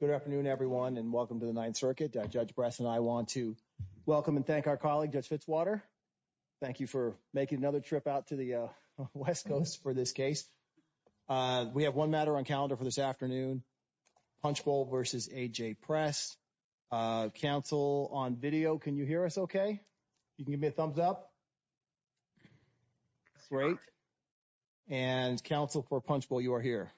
Good afternoon, everyone, and welcome to the Ninth Circuit. Judge Bress and I want to welcome and thank our colleague, Judge Fitzwater. Thank you for making another trip out to the West Coast for this case. We have one matter on calendar for this afternoon, Punchbowl v. AJ Press. Counsel on video, can you hear us okay? You can give me a thumbs up. Great. And counsel for Punchbowl, you are here.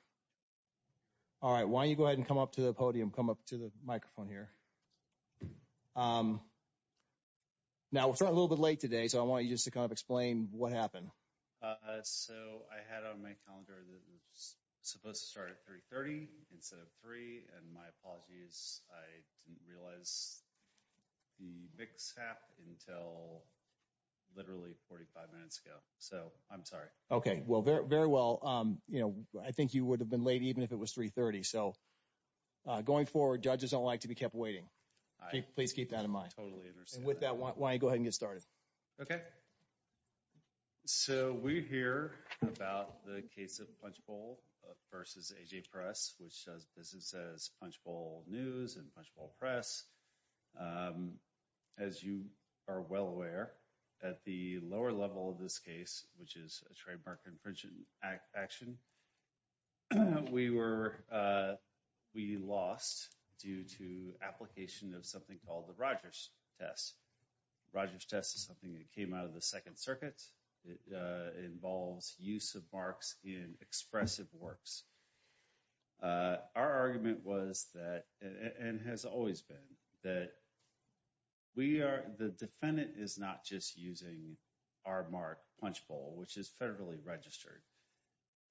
All right, why don't you go ahead and come up to the podium, come up to the microphone here. Now, we're starting a little bit late today, so I want you just to kind of explain what happened. So, I had on my calendar that it was supposed to start at 3.30 instead of 3.00, and my apologies, I didn't realize the mix happened until literally 45 minutes ago. So, I'm sorry. Okay, well, very well, you know, I think you would have been late even if it was 3.30. So, going forward, judges don't like to be kept waiting. Please keep that in mind. I totally understand. And with that, why don't you go ahead and get started. Okay. So, we hear about the case of Punchbowl v. AJ Press, which does business as Punchbowl News and Punchbowl Press. As you are well aware, at the lower level of this case, which is a trademark infringement action, we lost due to application of something called the Rogers test. Rogers test is something that came out of the Second Circuit. It involves use of marks in expressive works. Our argument was that, and has always been, that we are, the defendant is not just using our mark Punchbowl, which is federally registered,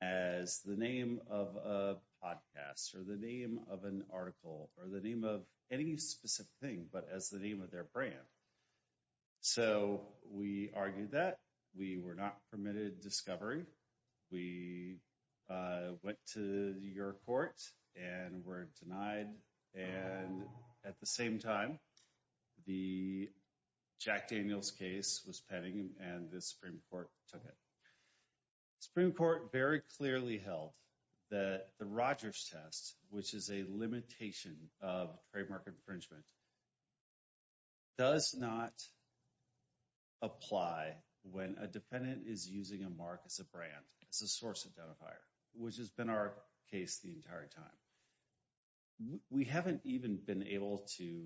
as the name of a podcast or the name of an article or the name of any specific thing, but as the name of their brand. So, we argued that. We were not permitted discovery. We went to your court and were denied. And at the same time, the Jack Daniels case was pending, and the Supreme Court took it. Supreme Court very clearly held that the Rogers test, which is a limitation of trademark infringement, does not apply when a defendant is using a mark as a brand, as a source identifier, which has been our case the entire time. We haven't even been able to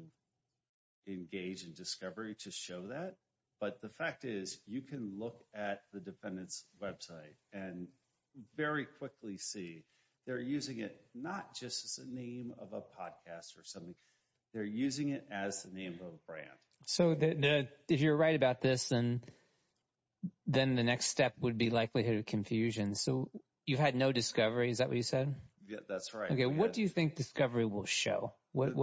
engage in discovery to show that, but the fact is, you can look at the defendant's website and very quickly see they're using it not just as a name of a podcast or something. They're using it as the name of a brand. So, if you're right about this, then the next step would be likelihood of confusion. So, you've had no discovery. Is that what you said? Yeah, that's right. Okay. What do you think discovery will show? What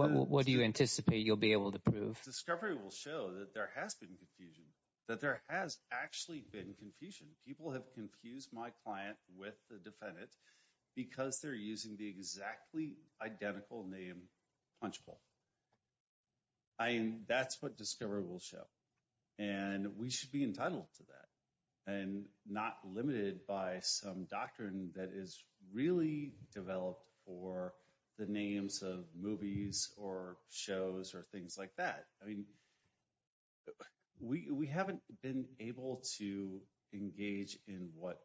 do you anticipate you'll be able to prove? Discovery will show that there has been confusion, that there has actually been confusion. People have confused my client with the defendant because they're using the exactly identical name, Punchbowl. That's what discovery will show, and we should be entitled to that and not limited by some doctrine that is really developed for the names of movies or shows or things like that. I mean, we haven't been able to engage in what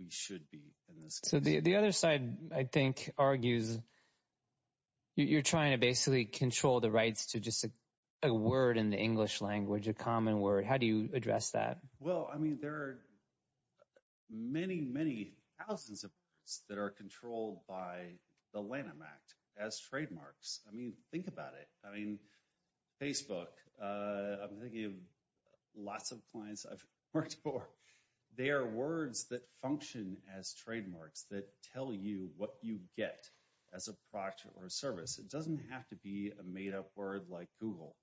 we should be in this case. So, the other side, I think, argues you're trying to basically control the rights to just a word in the English language, a common word. How do you address that? Well, I mean, there are many, many thousands of words that are controlled by the Lanham Act as trademarks. I mean, think about it. I mean, Facebook, I'm thinking of lots of clients I've worked for. They are words that function as trademarks that tell you what you get as a product or a service. It doesn't have to be a made-up word like Google.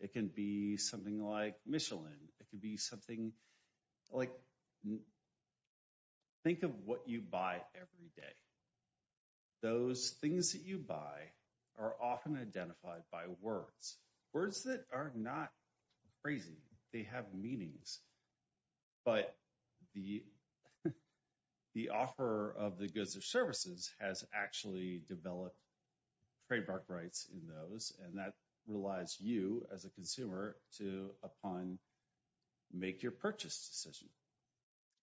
It can be something like Michelin. It could be something like, think of what you buy every day. Those things that you buy are often identified by words, words that are not crazy. They have meanings, but the offer of the goods or services has actually developed trademark rights in those, and that relies you as a consumer to, upon, make your purchase decision.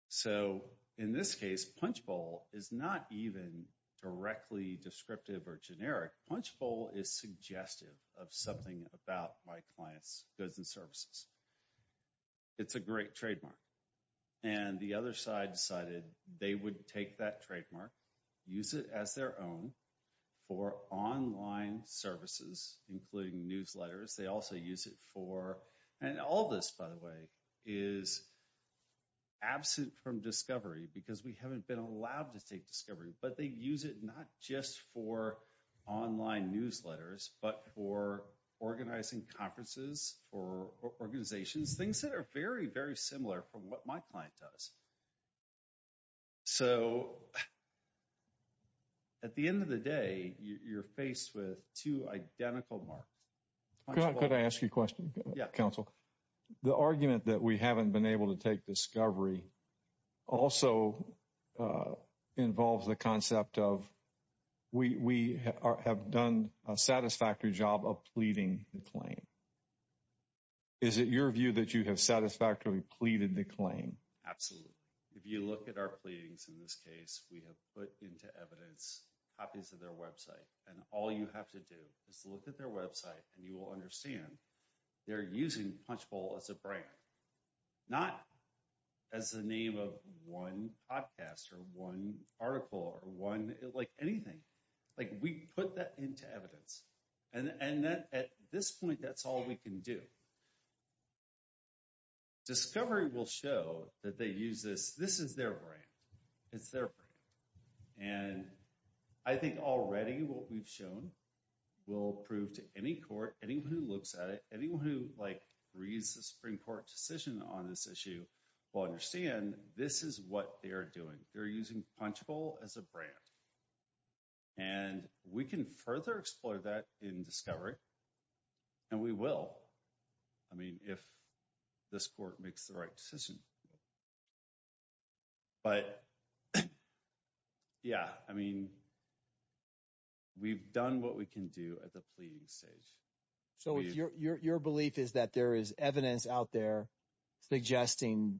So, in this case, Punchbowl is not even directly descriptive or generic. Punchbowl is suggestive of something about my client's goods and services. It's a great trademark. And the other side decided they would take that use it for, and all this, by the way, is absent from discovery because we haven't been allowed to take discovery, but they use it not just for online newsletters, but for organizing conferences, for organizations, things that are very, very similar from what my client does. So, at the end of the day, you're faced with two identical marks. MR. GARRETT. Could I ask you a question? MR. LARSEN. Yeah. MR. GARRETT. Counsel. The argument that we haven't been able to take discovery also involves the concept of we have done a satisfactory job of pleading the claim. Is it your view that you have satisfactorily pleaded the claim? MR. LARSEN. Absolutely. If you look at our pleadings in this case, we have put into evidence copies of their website. And all you have to do is look at their website, and you will understand they're using Punchbowl as a brand, not as the name of one podcast or one article or one, like, anything. Like, we put that into evidence. And at this point, that's all we can do. So, discovery will show that they use this. This is their brand. It's their brand. And I think already what we've shown will prove to any court, anyone who looks at it, anyone who, like, reads the Supreme Court decision on this issue will understand this is what they're doing. They're using Punchbowl as a brand. And we can further explore that in discovery. And we will, I mean, if this court makes the right decision. But, yeah, I mean, we've done what we can do at the pleading stage. MR. LARSEN. So, your belief is that there is evidence out there suggesting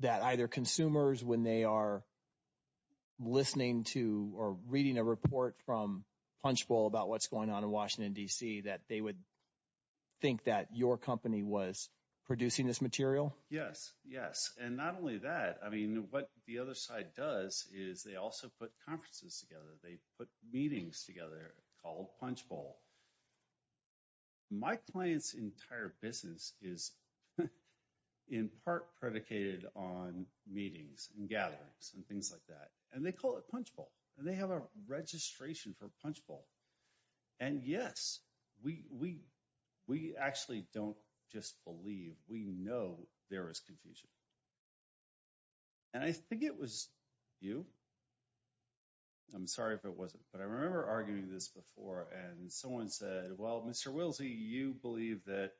that either consumers, when they are listening to or reading a report from Punchbowl about what's going on in Washington, D.C., that they would think that your company was producing this material? MR. LARSEN. Yes, yes. And not only that, I mean, what the other side does is they also put conferences together. They put meetings together called Punchbowl. My client's entire business is in part predicated on meetings and gatherings and things like that. And they call it Punchbowl. They have a registration for Punchbowl. And, yes, we actually don't just believe. We know there is confusion. And I think it was you. I'm sorry if it wasn't, but I remember arguing this before and someone said, well, Mr. Wilsey, you believe that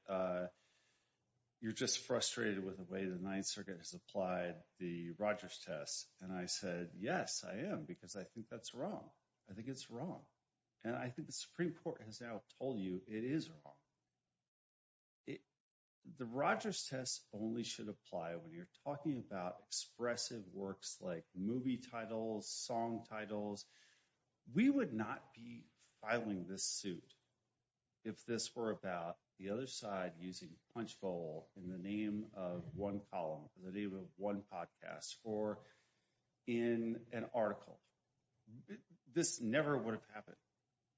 you're just frustrated with the way the Ninth Circuit has applied the Rogers test. And I said, yes, I am, because I think that's wrong. I think it's wrong. And I think the Supreme Court has now told you it is wrong. The Rogers test only should apply when you're talking about expressive works like movie titles, song titles. We would not be filing this suit if this were about the other side using Punchbowl in the name of one column, the name of one podcast, or in an article. This never would have happened,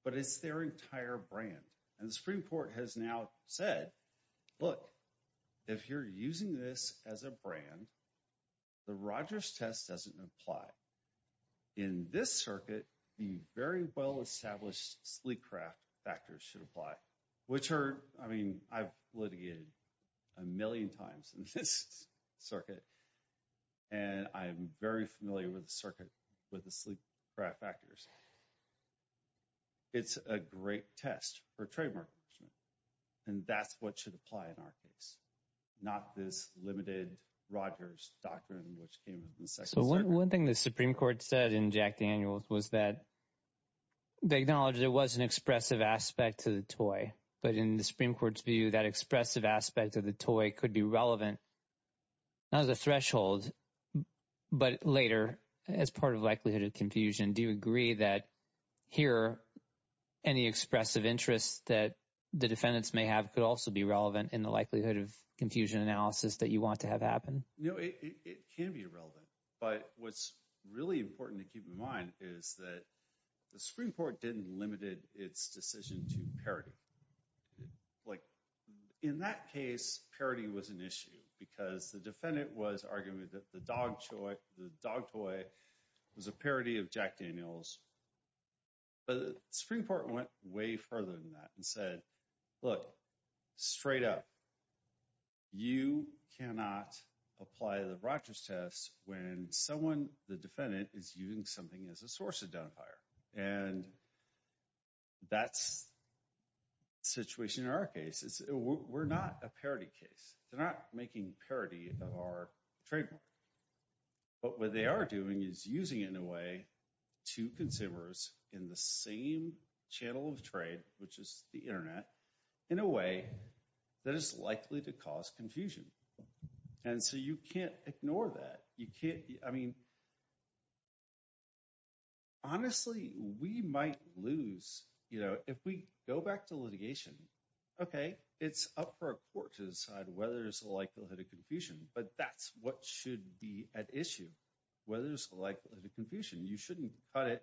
but it's their entire brand. And the Supreme Court has now said, look, if you're using this as a brand, the Rogers test doesn't apply. In this circuit, the very well-established sleek craft factors should apply, which are, I mean, I've litigated a million times in this circuit, and I'm very familiar with the circuit with the sleek craft factors. It's a great test for trademark infringement. And that's what should apply in our case, not this limited Rogers doctrine, which came in the second. So one thing the Supreme Court said in Jack Daniels was that they acknowledged it was an expressive aspect to the toy. But in the Supreme Court's view, that expressive aspect of the toy could be relevant, not as a threshold, but later as part of likelihood of confusion. Do you agree that here any expressive interest that the defendants may have could also be relevant in the likelihood of confusion analysis that you want to have happen? No, it can be irrelevant. But what's really important to keep in mind is that the Supreme Court didn't limited its decision to parody. Like in that case, parody was an issue because the defendant was arguing that the dog toy was a parody of Jack Daniels. But the Supreme Court went way further than that and said, look, straight up, you cannot apply the Rogers test when someone, the defendant, is using something as a source identifier. And that's the situation in our case. We're not a parody case. They're not making parody of our trademark. But what they are doing is using it in a way to consumers in the same channel of trade, which is the internet, in a way that is likely to cause honestly, we might lose. If we go back to litigation, okay, it's up for a court to decide whether there's a likelihood of confusion, but that's what should be at issue. Whether there's a likelihood of confusion, you shouldn't cut it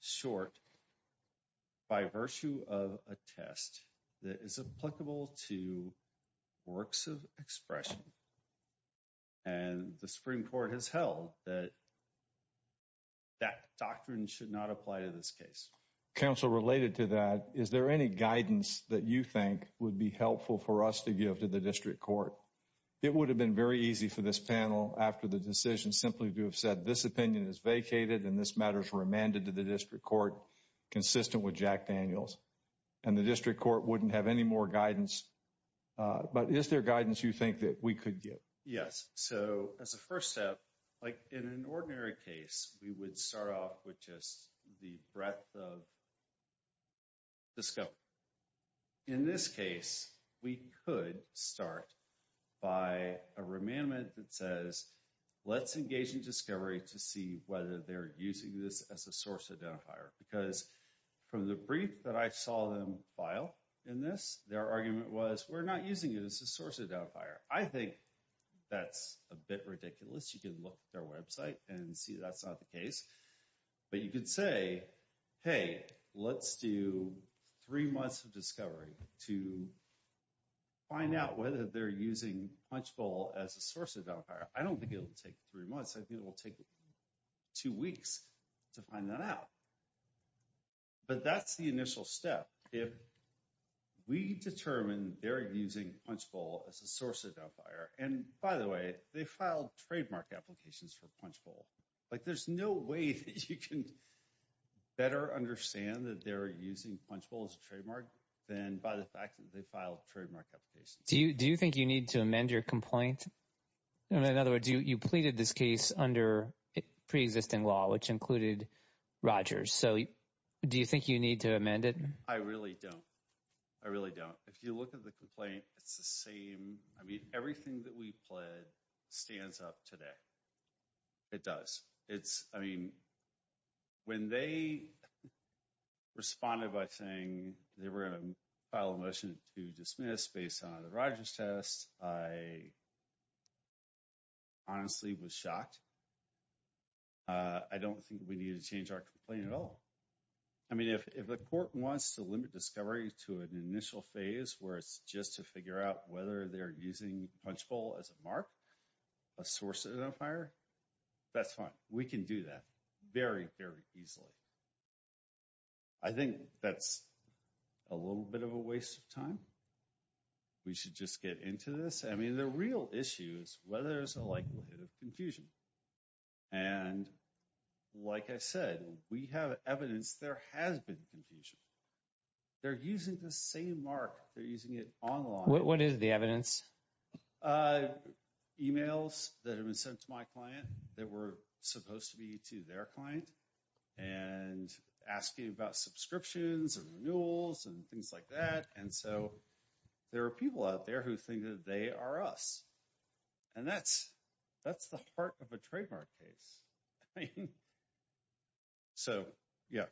short by virtue of a test that is applicable to works of expression. And the Supreme Court has held that that doctrine should not apply to this case. Counsel related to that, is there any guidance that you think would be helpful for us to give to the district court? It would have been very easy for this panel after the decision simply to have said this opinion is vacated and this matter is remanded to the district court, consistent with Jack Daniels. And the district court wouldn't have any more guidance. But is there guidance you think that we could give? Yes. So as a first step, like in an ordinary case, we would start off with just the breadth of the scope. In this case, we could start by a remandment that says, let's engage in discovery to see whether they're using this as a source we're not using it as a source of doubt fire. I think that's a bit ridiculous. You can look at their website and see that's not the case, but you could say, hey, let's do three months of discovery to find out whether they're using Punchbowl as a source of doubt. I don't think it'll take three months. I think it will take two weeks to find that out. But that's the initial step. If we determine they're using Punchbowl as a source of doubt fire, and by the way, they filed trademark applications for Punchbowl. Like there's no way that you can better understand that they're using Punchbowl as a trademark than by the fact that they filed trademark applications. Do you think you need to amend your complaint? In other words, you pleaded this case under pre-existing law, which included Rogers. So, do you think you need to amend it? I really don't. I really don't. If you look at the complaint, it's the same. I mean, everything that we pled stands up today. It does. It's, I mean, when they responded by saying they were going to file a motion to dismiss based on the Rogers test, I honestly was shocked. I don't think we need to change our complaint at all. I mean, if the court wants to limit discovery to an initial phase where it's just to figure out whether they're using Punchbowl as a mark, a source of doubt fire, that's fine. We can do that very, very easily. I think that's a little bit of a waste of time. We should just get into this. I mean, the real issue is whether there's a likelihood of confusion. And like I said, we have evidence there has been confusion. They're using the same mark. They're using it online. What is the evidence? Emails that have been sent to my client that were supposed to be to their client and asking about subscriptions and renewals and things like that. And so there are people out there who think that they are us. And that's the heart of a trademark case. So, yeah.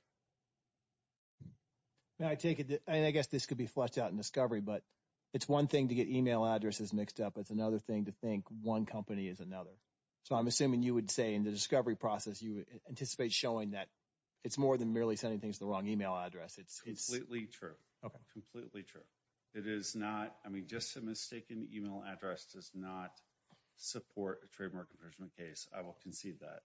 Now, I take it, and I guess this could be fleshed out in discovery, but it's one thing to get email addresses mixed up. It's another thing to think one company is another. So I'm assuming you would say in the discovery process, you anticipate showing that it's more than merely sending things to the wrong email address. It's completely true. It is not. I mean, just a mistaken email address does not support a trademark infringement case. I will concede that.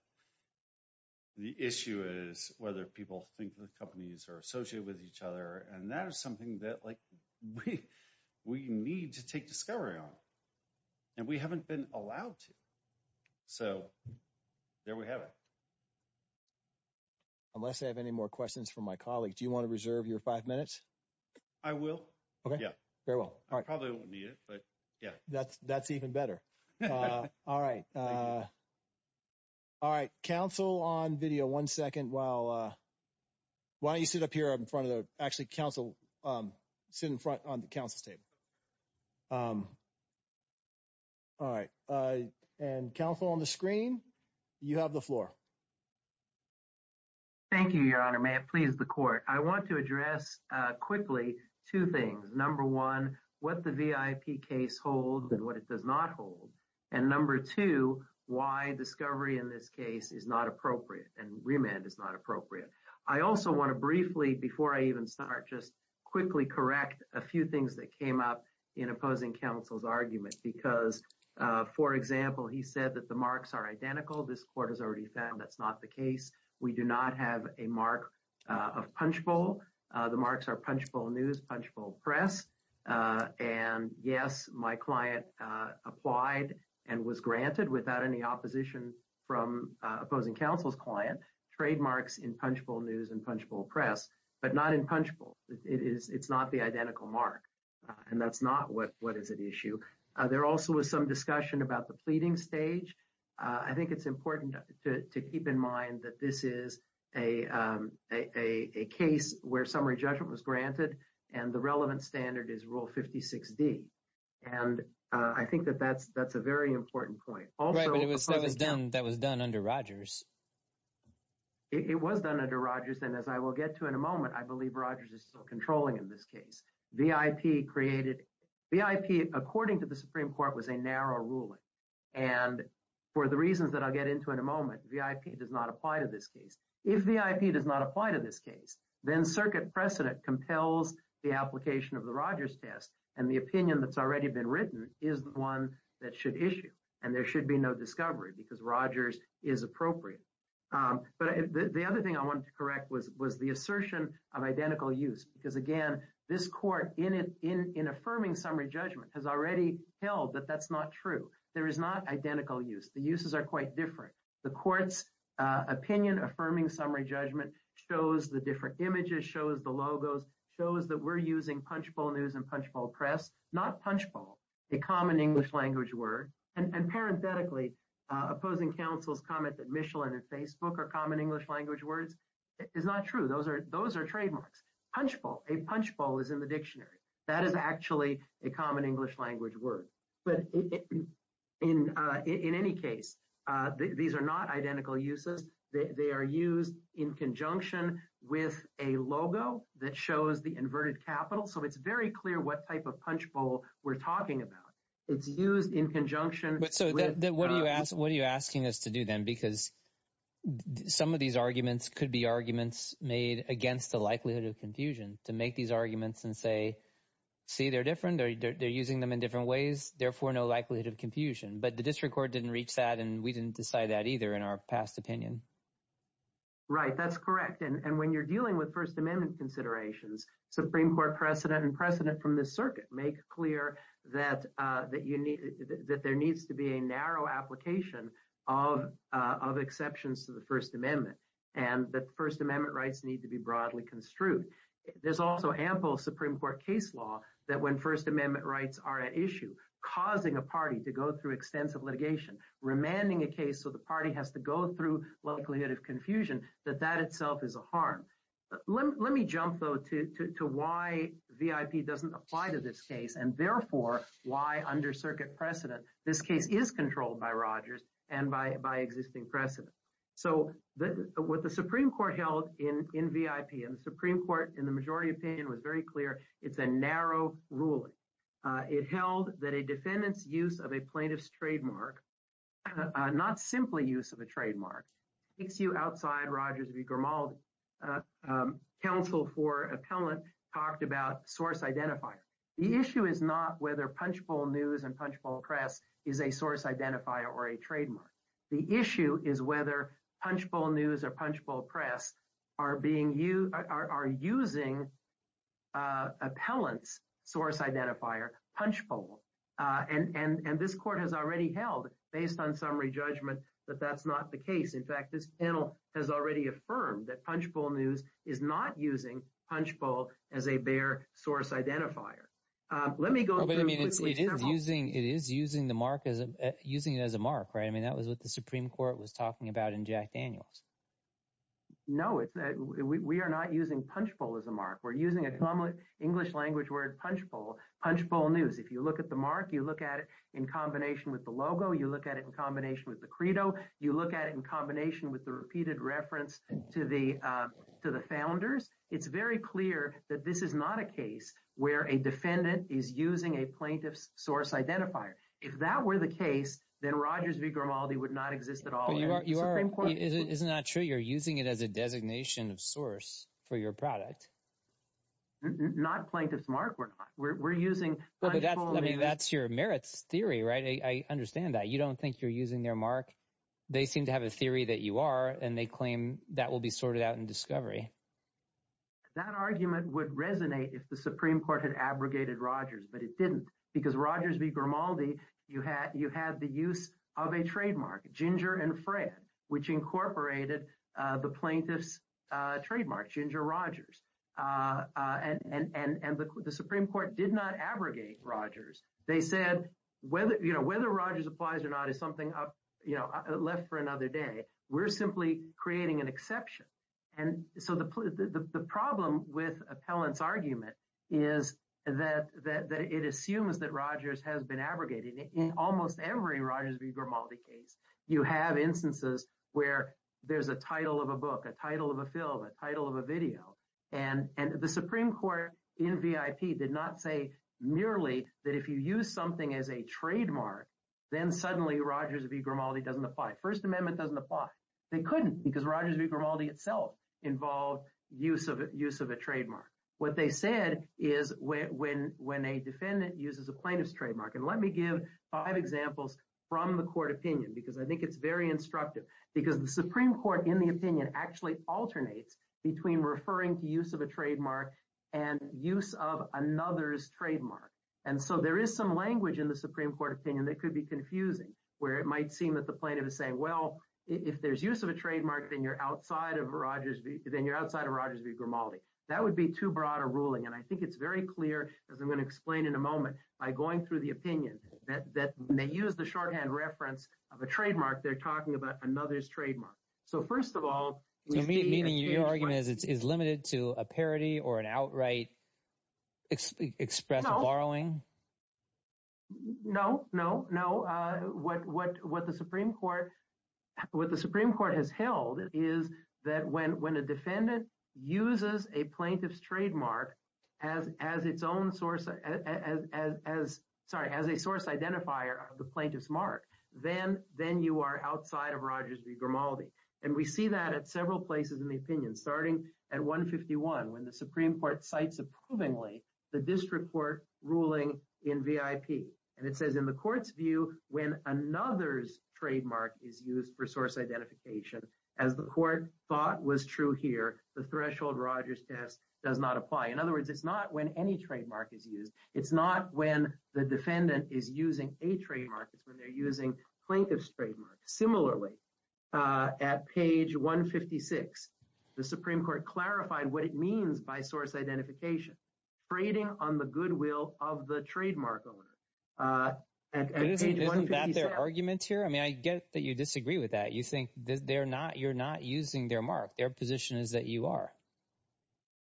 The issue is whether people think the companies are associated with each other. And that is something that we need to take discovery on. And we haven't been allowed to. So there we have it. Unless I have any more questions from my colleagues, do you want to reserve your five minutes? Dr. Michael Lysakowski I will. Dr. Michael Lysakowski Okay. Dr. Michael Lysakowski Yeah. Dr. Michael Lysakowski Very well. Dr. Michael Lysakowski I probably won't need it, but yeah. Dr. Michael Lysakowski That's even better. All right. All right. Council on video, one second while why don't you sit up here in front of the, actually Council, sit in front on the Council's table. All right. And Council on the screen, you have the floor. Dr. Michael Lysakowski Thank you, Your Honor. May it please the court. I want to address quickly two things. Number one, what the VIP case holds and what it does not hold. And number two, why discovery in this case is not appropriate and remand is not appropriate. I also want to briefly, before I even start, just quickly correct a few things that came up in opposing Council's argument. Because, for example, he said that the marks are identical. This court has already found that's not the case. We do not have a mark of Punchbowl. The marks are Punchbowl News, Punchbowl Press. And yes, my client applied and was granted without any opposition from opposing Council's client trademarks in Punchbowl News and Punchbowl Press, but not in Punchbowl. It's not the identical mark, and that's not what is at issue. There also was some discussion about the pleading stage. I think it's important to keep in mind that this is a case where summary judgment was granted, and the relevant standard is Rule 56D. And I think that that's a very important point. Also, of course, again — Dr. Michael Lysakowski Right, but that was done under Rogers. Dr. Michael Lysakowski It was done under Rogers, and as I will get to in a moment, I believe Rogers is still controlling in this case. VIP created — VIP, according to the Supreme Court, was a narrow ruling. And for the reasons that I'll get into in a moment, VIP does not apply to this case. If VIP does not apply to this case, then circuit precedent compels the application of the Rogers test, and the opinion that's already been written is the one that should issue. And there should be no discovery, because Rogers is appropriate. But the other thing I wanted to correct was the assertion of identical use. Because again, this Court, in affirming summary judgment, has already held that that's not true. There is not identical use. The uses are quite different. The Court's opinion affirming summary judgment shows the different images, shows the logos, shows that we're using punchbowl news and punchbowl press — not punchbowl, a common English-language word. And parenthetically, opposing counsel's comment that Michelin and Facebook are common English-language words is not true. Those are trademarks. Punchbowl, a punchbowl is in the dictionary. That is actually a common English-language word. But in any case, these are not identical uses. They are used in conjunction with a logo that shows the inverted capital. So it's very clear what type of punchbowl we're talking about. It's used in conjunction with — So what are you asking us to do then? Because some of these arguments could be arguments made against the likelihood of confusion, to make these arguments and say, see, they're different. They're using them in different ways. Therefore, no likelihood of confusion. But the District Court didn't reach that, and we didn't decide that either in our past opinion. Right, that's correct. And when you're dealing with First Amendment considerations, Supreme Court precedent and precedent from the circuit make clear that there needs to be a narrow application of exceptions to the First Amendment and that First Amendment rights need to be broadly construed. There's also ample Supreme Court case law that when First Amendment rights are at issue, causing a party to go through extensive litigation, remanding a case so the party has to go through likelihood of confusion, that that itself is a harm. Let me jump though to why VIP doesn't apply to this case and therefore why under circuit precedent this case is controlled by Rogers and by existing precedent. So what the Supreme Court held in VIP, and the Supreme Court in the majority opinion was very clear, it's a narrow ruling. It held that a defendant's use of a plaintiff's trademark, not simply use of a trademark, takes you outside Rogers v. Grimaldi. Counsel for appellant talked about source identifier. The issue is not whether Punchbowl News and Punchbowl Press is a source identifier or a trademark. The issue is whether Punchbowl News or Punchbowl Press are using appellant's source identifier, Punchbowl. And this court has already held, based on summary judgment, that that's not the case. In fact, this panel has already affirmed that Punchbowl News is not using Punchbowl as a bare source identifier. Let me go through quickly several- It is using it as a mark, right? That was what the Supreme Court was talking about in Jack Daniels. No, we are not using Punchbowl as a mark. We're using a common English language word, Punchbowl News. If you look at the mark, you look at it in combination with the logo, you look at it in combination with the credo, you look at it in combination with the repeated reference to the founders. It's very clear that this is not a case where a defendant is using a plaintiff's source identifier. If that were the case, then Rogers v. Grimaldi would not exist at all. Isn't that true? You're using it as a designation of source for your product? Not plaintiff's mark, we're not. We're using Punchbowl News- That's your merits theory, right? I understand that. You don't think you're using their mark. They seem to have a theory that you are, and they claim that will be sorted out in discovery. That argument would resonate if the Supreme Court had abrogated Rogers, but it didn't. Because Rogers v. Grimaldi, you had the use of a trademark, Ginger and Fred, which incorporated the plaintiff's trademark, Ginger Rogers. And the Supreme Court did not abrogate Rogers. They said, whether Rogers applies or not is something left for another day. We're simply creating an exception. And so the problem with appellant's argument is that it assumes that Rogers has been abrogated. In almost every Rogers v. Grimaldi case, you have instances where there's a title of a book, a title of a film, a title of a video. And the Supreme Court in VIP did not say merely that if you use something as a trademark, then suddenly Rogers v. Grimaldi doesn't apply. First Amendment doesn't apply. They couldn't because Rogers v. Grimaldi itself involved use of a trademark. What they said is when a defendant uses a plaintiff's trademark, and let me give five examples from the court opinion, because I think it's very instructive, because the Supreme Court in the opinion actually alternates between referring to use of a trademark and use of another's trademark. And so there is some language in the Supreme Court opinion that could be confusing, where it might seem that the plaintiff is saying, well, if there's use of a trademark, then you're outside of Rogers v. Grimaldi. That would be too broad a ruling. And I think it's very clear, as I'm going to explain in a moment, by going through the opinion that when they use shorthand reference of a trademark, they're talking about another's trademark. So first of all, meaning your argument is limited to a parody or an outright express borrowing? No, no, no. What the Supreme Court has held is that when a defendant uses a plaintiff's trademark as its own source, sorry, as a source identifier of the plaintiff's mark, then you are outside of Rogers v. Grimaldi. And we see that at several places in the opinion, starting at 151, when the Supreme Court cites approvingly the district court ruling in VIP. And it says in the court's view, when another's trademark is used for source identification, as the court thought was true here, the threshold Rogers test does not apply. In other words, it's not when any trademark is used. It's not when the defendant is using a trademark. It's when they're using plaintiff's trademark. Similarly, at page 156, the Supreme Court clarified what it means by source identification. Freighting on the goodwill of the trademark owner. And isn't that their argument here? I mean, I get that you disagree with that. You think you're not using their mark. Their position is that you are.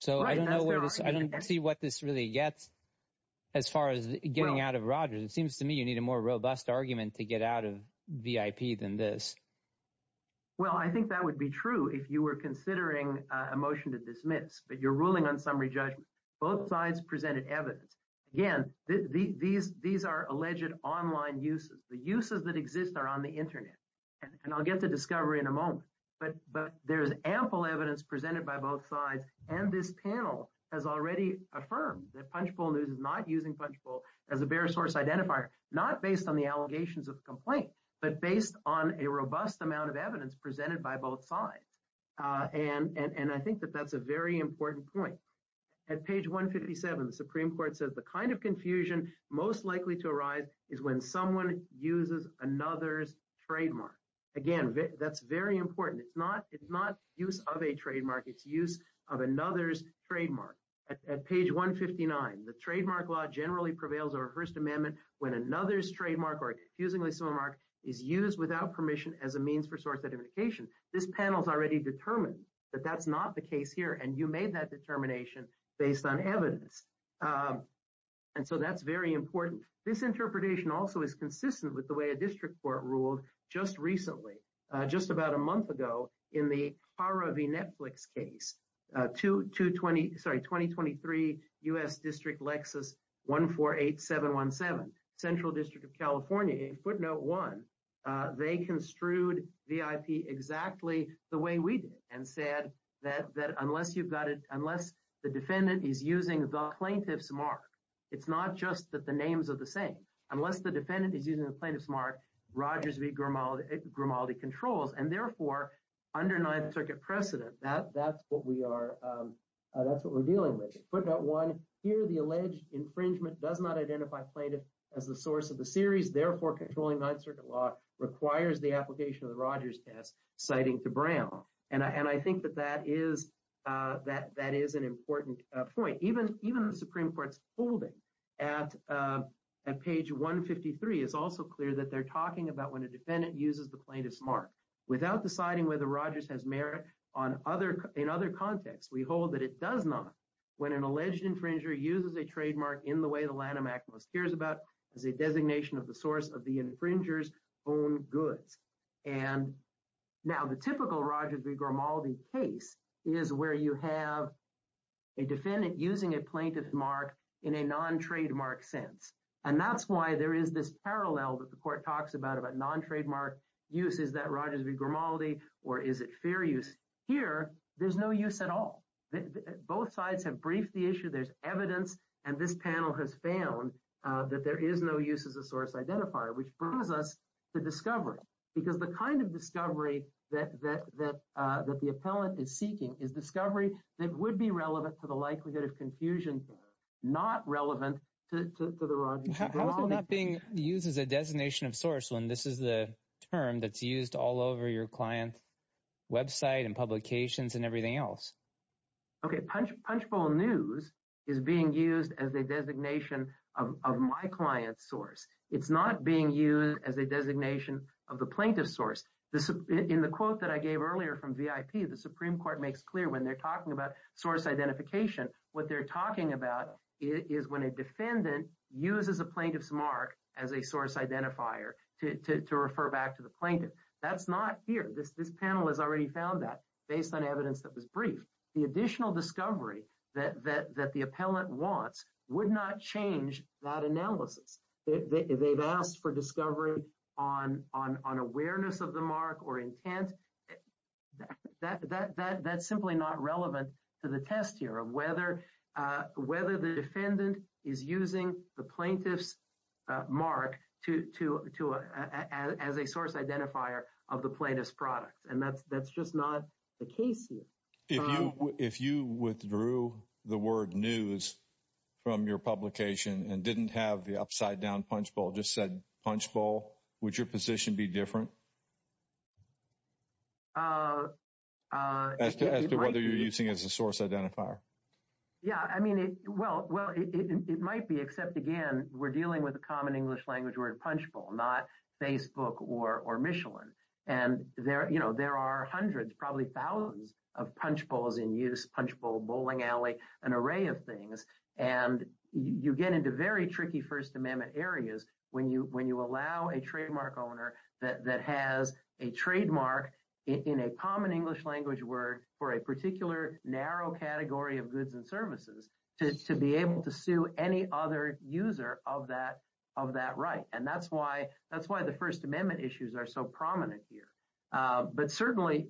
So I don't see what this really gets as far as getting out of Rogers. It seems to me you need a more robust argument to get out of VIP than this. Well, I think that would be true if you were considering a motion to dismiss, but you're ruling on summary judgment. Both sides presented evidence. Again, these are alleged online uses. The uses that exist are on the internet. And I'll get to discovery in a moment. But there's ample evidence presented by both sides. And this panel has already affirmed that Punchbowl News is not using Punchbowl as a bare source identifier, not based on the allegations of complaint, but based on a robust amount of evidence presented by both sides. And I think that that's a very important point. At page 157, the Supreme Court says the kind of confusion most likely to arise is when someone uses another's trademark. Again, that's very important. It's not use of a trademark. It's use of another's trademark. At page 159, the trademark law generally prevails over Hearst Amendment when another's trademark or confusingly similar mark is used without permission as a means for source identification. This panel has already determined that that's not the case here. And you made that determination based on evidence. And so that's very important. This interpretation also is consistent with the way district court ruled just recently, just about a month ago, in the Hara v. Netflix case, 2023 U.S. District Lexus 148717, Central District of California. In footnote one, they construed VIP exactly the way we did and said that unless the defendant is using the plaintiff's mark, it's not just that the names are the same. Unless the defendant is using the Rogers v. Grimaldi controls. And therefore, under Ninth Circuit precedent, that's what we are, that's what we're dealing with. Footnote one, here the alleged infringement does not identify plaintiff as the source of the series. Therefore, controlling Ninth Circuit law requires the application of the Rogers test, citing to Brown. And I think that that is an important point. Even the Supreme Court's holding at page 153 is also clear that they're talking about when a defendant uses the plaintiff's mark. Without deciding whether Rogers has merit in other contexts, we hold that it does not. When an alleged infringer uses a trademark in the way the Lanham Act most cares about as a designation of the source of the infringer's own goods. And now the typical Rogers v. Grimaldi case is where you have a defendant using a plaintiff's mark in a non-trademark sense. And that's why there is this parallel that the court talks about, about non-trademark use. Is that Rogers v. Grimaldi or is it fair use? Here, there's no use at all. Both sides have briefed the issue. There's evidence. And this panel has found that there is no use as a source identifier, which brings us to discovery. Because the kind of discovery that the appellant is seeking is discovery that would be relevant to the likelihood of confusion, not relevant to the Rogers v. Grimaldi case. How is it not being used as a designation of source when this is the term that's used all over your client's website and publications and everything else? Okay. Punchbowl News is being used as a designation of my client's source. It's not being used as a designation of the plaintiff's source. In the quote that I gave earlier from VIP, the Supreme Court makes clear when they're talking about source identification, what they're talking about is when a defendant uses a plaintiff's mark as a source identifier to refer back to the plaintiff. That's not here. This panel has already found that. Based on evidence that was briefed, the additional discovery that the appellant wants would not change that analysis. They've asked for discovery on awareness of the mark or intent. That's simply not relevant to the test here of whether the defendant is using the plaintiff's mark as a case here. If you withdrew the word news from your publication and didn't have the upside down punchbowl, just said punchbowl, would your position be different as to whether you're using as a source identifier? Yeah. I mean, well, it might be, except again, we're dealing with a common English language word, punchbowl, not Facebook or Michelin. And there are hundreds, probably thousands of punchbowls in use, punchbowl, bowling alley, an array of things. And you get into very tricky First Amendment areas when you allow a trademark owner that has a trademark in a common English language word for a particular narrow category of goods and services to be able to sue any other user of that right. And that's why the First Amendment issues are so prominent here. But certainly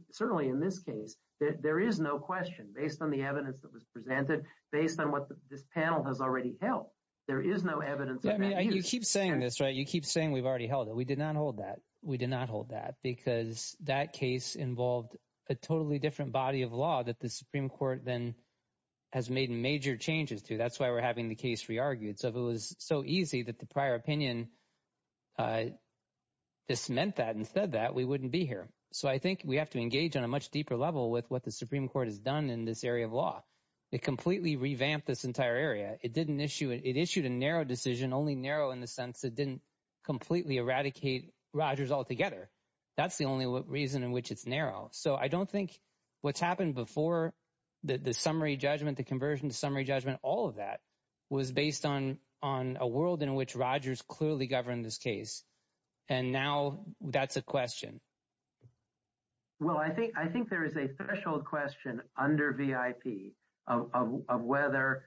in this case, there is no question based on the evidence that was presented, based on what this panel has already held, there is no evidence of that. You keep saying this, right? You keep saying we've already held it. We did not hold that. We did not hold that because that case involved a totally different body of law that the Supreme Court then has made major changes to. That's why we're having the case re-argued. So if it was so easy that the prior opinion dismantled that and said that, we wouldn't be here. So I think we have to engage on a much deeper level with what the Supreme Court has done in this area of law. It completely revamped this entire area. It issued a narrow decision, only narrow in the sense it didn't completely eradicate Rogers altogether. That's the only reason in which it's narrow. So I don't think what's happened before, the summary judgment, the conversion to summary judgment, all of that was based on a world in which Rogers clearly governed this case. And now that's a question. Well, I think there is a threshold question under VIP of whether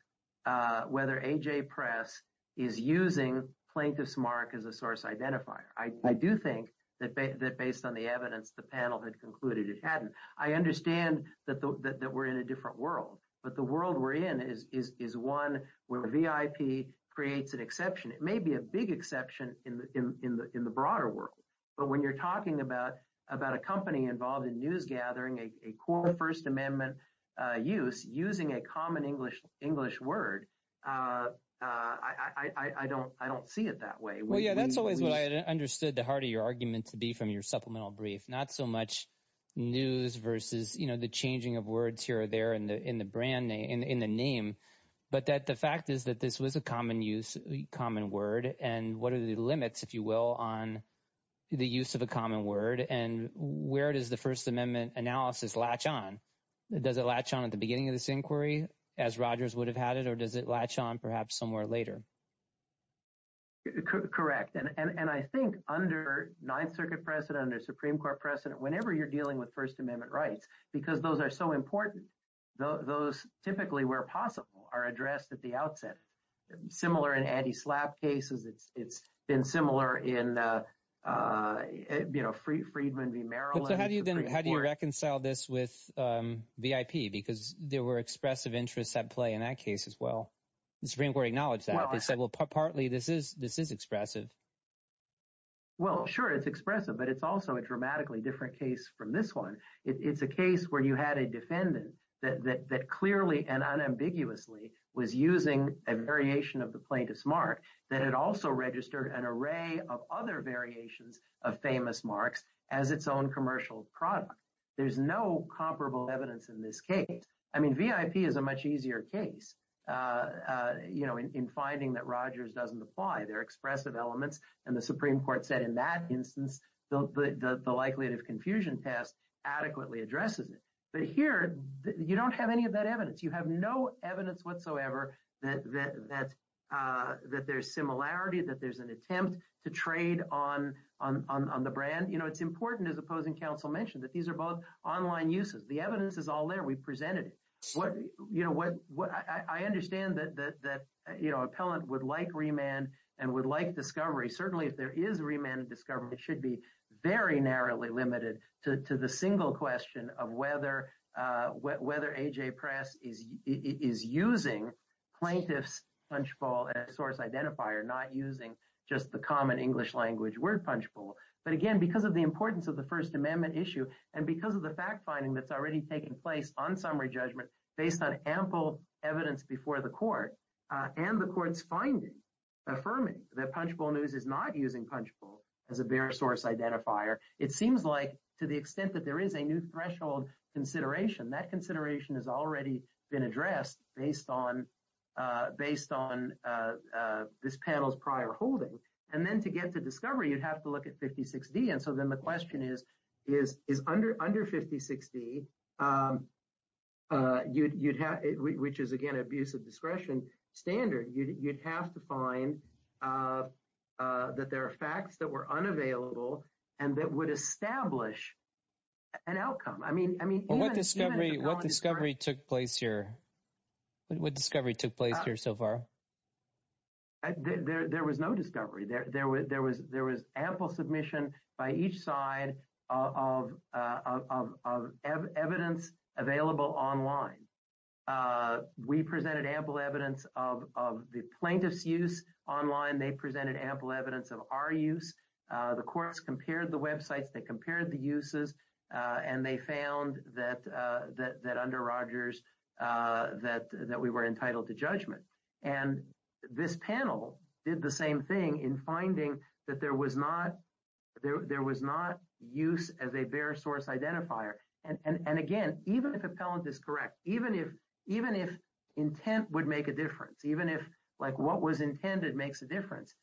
AJ Press is using Plaintiff's Mark as a source identifier. I do think that based on the evidence the panel had concluded it hadn't. I understand that we're in a different world, but the world we're in is one where VIP creates an exception. It may be a big exception in the broader world, but when you're talking about a company involved in news gathering, a core First Amendment use, using a common English word, I don't see it that way. Well, yeah, that's always what I understood the heart of your argument to be from your supplemental brief. Not so much news versus, you know, the changing of words here or there in the name, but that the fact is that this was a common use, common word, and what are the limits, if you will, on the use of a common word? And where does the First Amendment analysis latch on? Does it latch on at the beginning of this inquiry as Rogers would have had it, or does it latch on perhaps somewhere later? Correct. And I think under Ninth Circuit precedent, under Supreme Court precedent, whenever you're dealing with First Amendment rights, because those are so important, those typically, where possible, are addressed at the outset. Similar in anti-SLAPP cases, it's been similar in, you know, Friedman v. Merrill. So how do you reconcile this with VIP? Because there were expressive interests at play in that case as well. The Supreme Court acknowledged that. They said, well, partly this is expressive. Well, sure, it's expressive, but it's also a dramatically different case from this one. It's a case where you had a defendant that clearly and unambiguously was using a variation of the plaintiff's mark that had also registered an array of other variations of famous marks as its own commercial product. There's no comparable evidence in this case. I mean, VIP is a much easier case, you know, in finding that Rogers doesn't apply. Their expressive elements. And the Supreme Court said in that instance, the likelihood of confusion test adequately addresses it. But here, you don't have any of that evidence. You have no evidence whatsoever that there's similarity, that there's an attempt to trade on the brand. You know, it's important, as opposing counsel mentioned, that these are both online uses. The evidence is all there. We presented it. You know, I understand that, you know, an appellant would remand and would like discovery. Certainly, if there is remand and discovery, it should be very narrowly limited to the single question of whether A.J. Press is using plaintiff's punchbowl as a source identifier, not using just the common English language word punchbowl. But again, because of the importance of the First Amendment issue and because of the fact finding that's already taken place on summary judgment based on ample evidence before the court and the court's affirming that punchbowl news is not using punchbowl as a bare source identifier, it seems like to the extent that there is a new threshold consideration, that consideration has already been addressed based on this panel's prior holding. And then to get to discovery, you'd have to look at 56D. And so then the question is, is under 56D, you'd have, which is, again, abuse of discretion standard, you'd have to find that there are facts that were unavailable and that would establish an outcome. I mean, I mean, what discovery took place here? What discovery took place here so far? There was no discovery. There was ample submission by each side of evidence available online. We presented ample evidence of the plaintiff's use online. They presented ample evidence of our use. The courts compared the websites, they compared the uses, and they found that under Rogers, that we were entitled to judgment. And this panel did the And again, even if appellant is correct, even if intent would make a difference, even if, like, what was intended makes a difference,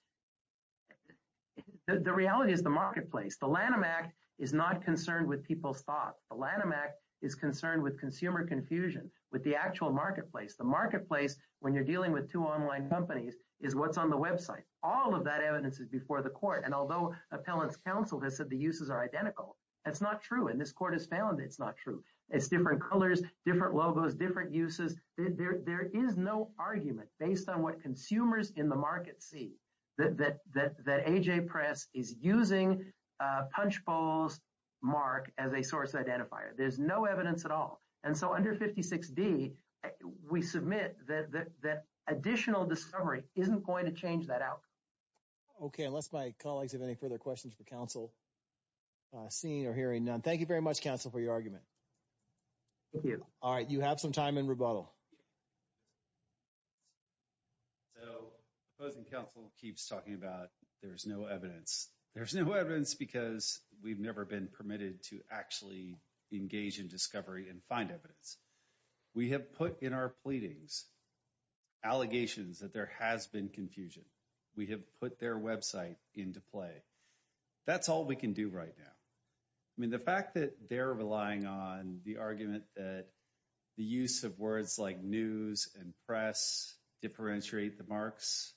the reality is the marketplace. The Lanham Act is not concerned with people's thoughts. The Lanham Act is concerned with consumer confusion, with the actual marketplace. The marketplace, when you're dealing with two online companies, is what's on the website. All of that evidence is before the court. And although appellant's counsel has said the uses are identical, that's not true. And this court has found it's not true. It's different colors, different logos, different uses. There is no argument based on what consumers in the market see that AJ Press is using Punchbowl's mark as a source identifier. There's no evidence at all. And so under 56D, we submit that additional discovery isn't going to change that outcome. Okay. Unless my colleagues have any further questions for counsel, seeing or hearing none. Thank you very much, counsel, for your argument. All right. You have some time in rebuttal. So opposing counsel keeps talking about there's no evidence. There's no evidence because we've never been permitted to actually engage in discovery and find evidence. We have put in our website into play. That's all we can do right now. I mean, the fact that they're relying on the argument that the use of words like news and press differentiate the marks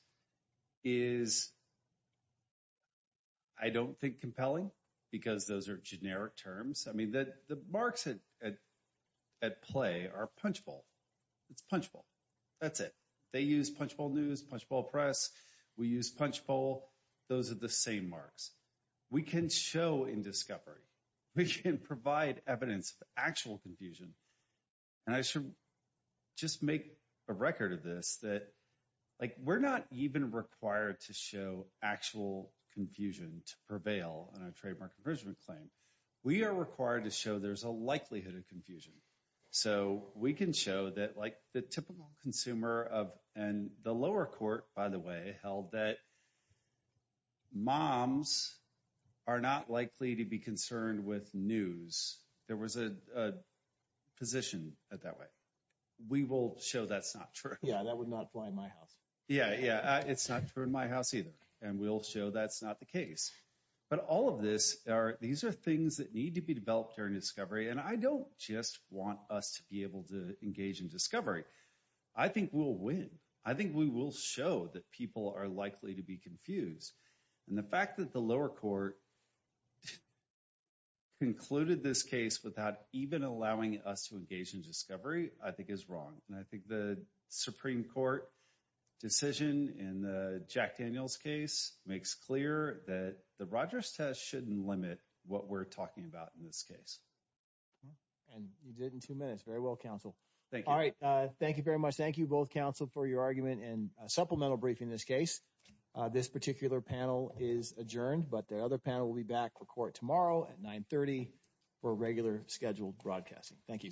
is, I don't think, compelling because those are generic terms. I mean, the marks at play are that's it. They use Punchbowl News, Punchbowl Press. We use Punchbowl. Those are the same marks. We can show in discovery. We can provide evidence of actual confusion. And I should just make a record of this that like we're not even required to show actual confusion to prevail on a trademark infringement claim. We are required to show there's a likelihood of confusion. So we can show that like the typical consumer of and the lower court, by the way, held that moms are not likely to be concerned with news. There was a position that that way. We will show that's not true. Yeah, that would not apply in my house. Yeah, yeah. It's not true in my house either. And we'll show that's not the case. But all of this these are things that need to be developed during discovery. And I don't just want us to be able to engage in discovery. I think we'll win. I think we will show that people are likely to be confused. And the fact that the lower court concluded this case without even allowing us to engage in discovery, I think is wrong. And I think the Supreme Court decision in the Jack Daniels case makes clear that the Rogers test shouldn't limit what we're talking about in this case. And you did in two minutes. Very well, counsel. All right. Thank you very much. Thank you both counsel for your argument and supplemental briefing this case. This particular panel is adjourned, but the other panel will be back for court tomorrow at 930 for regular scheduled broadcasting. Thank you. Thank you.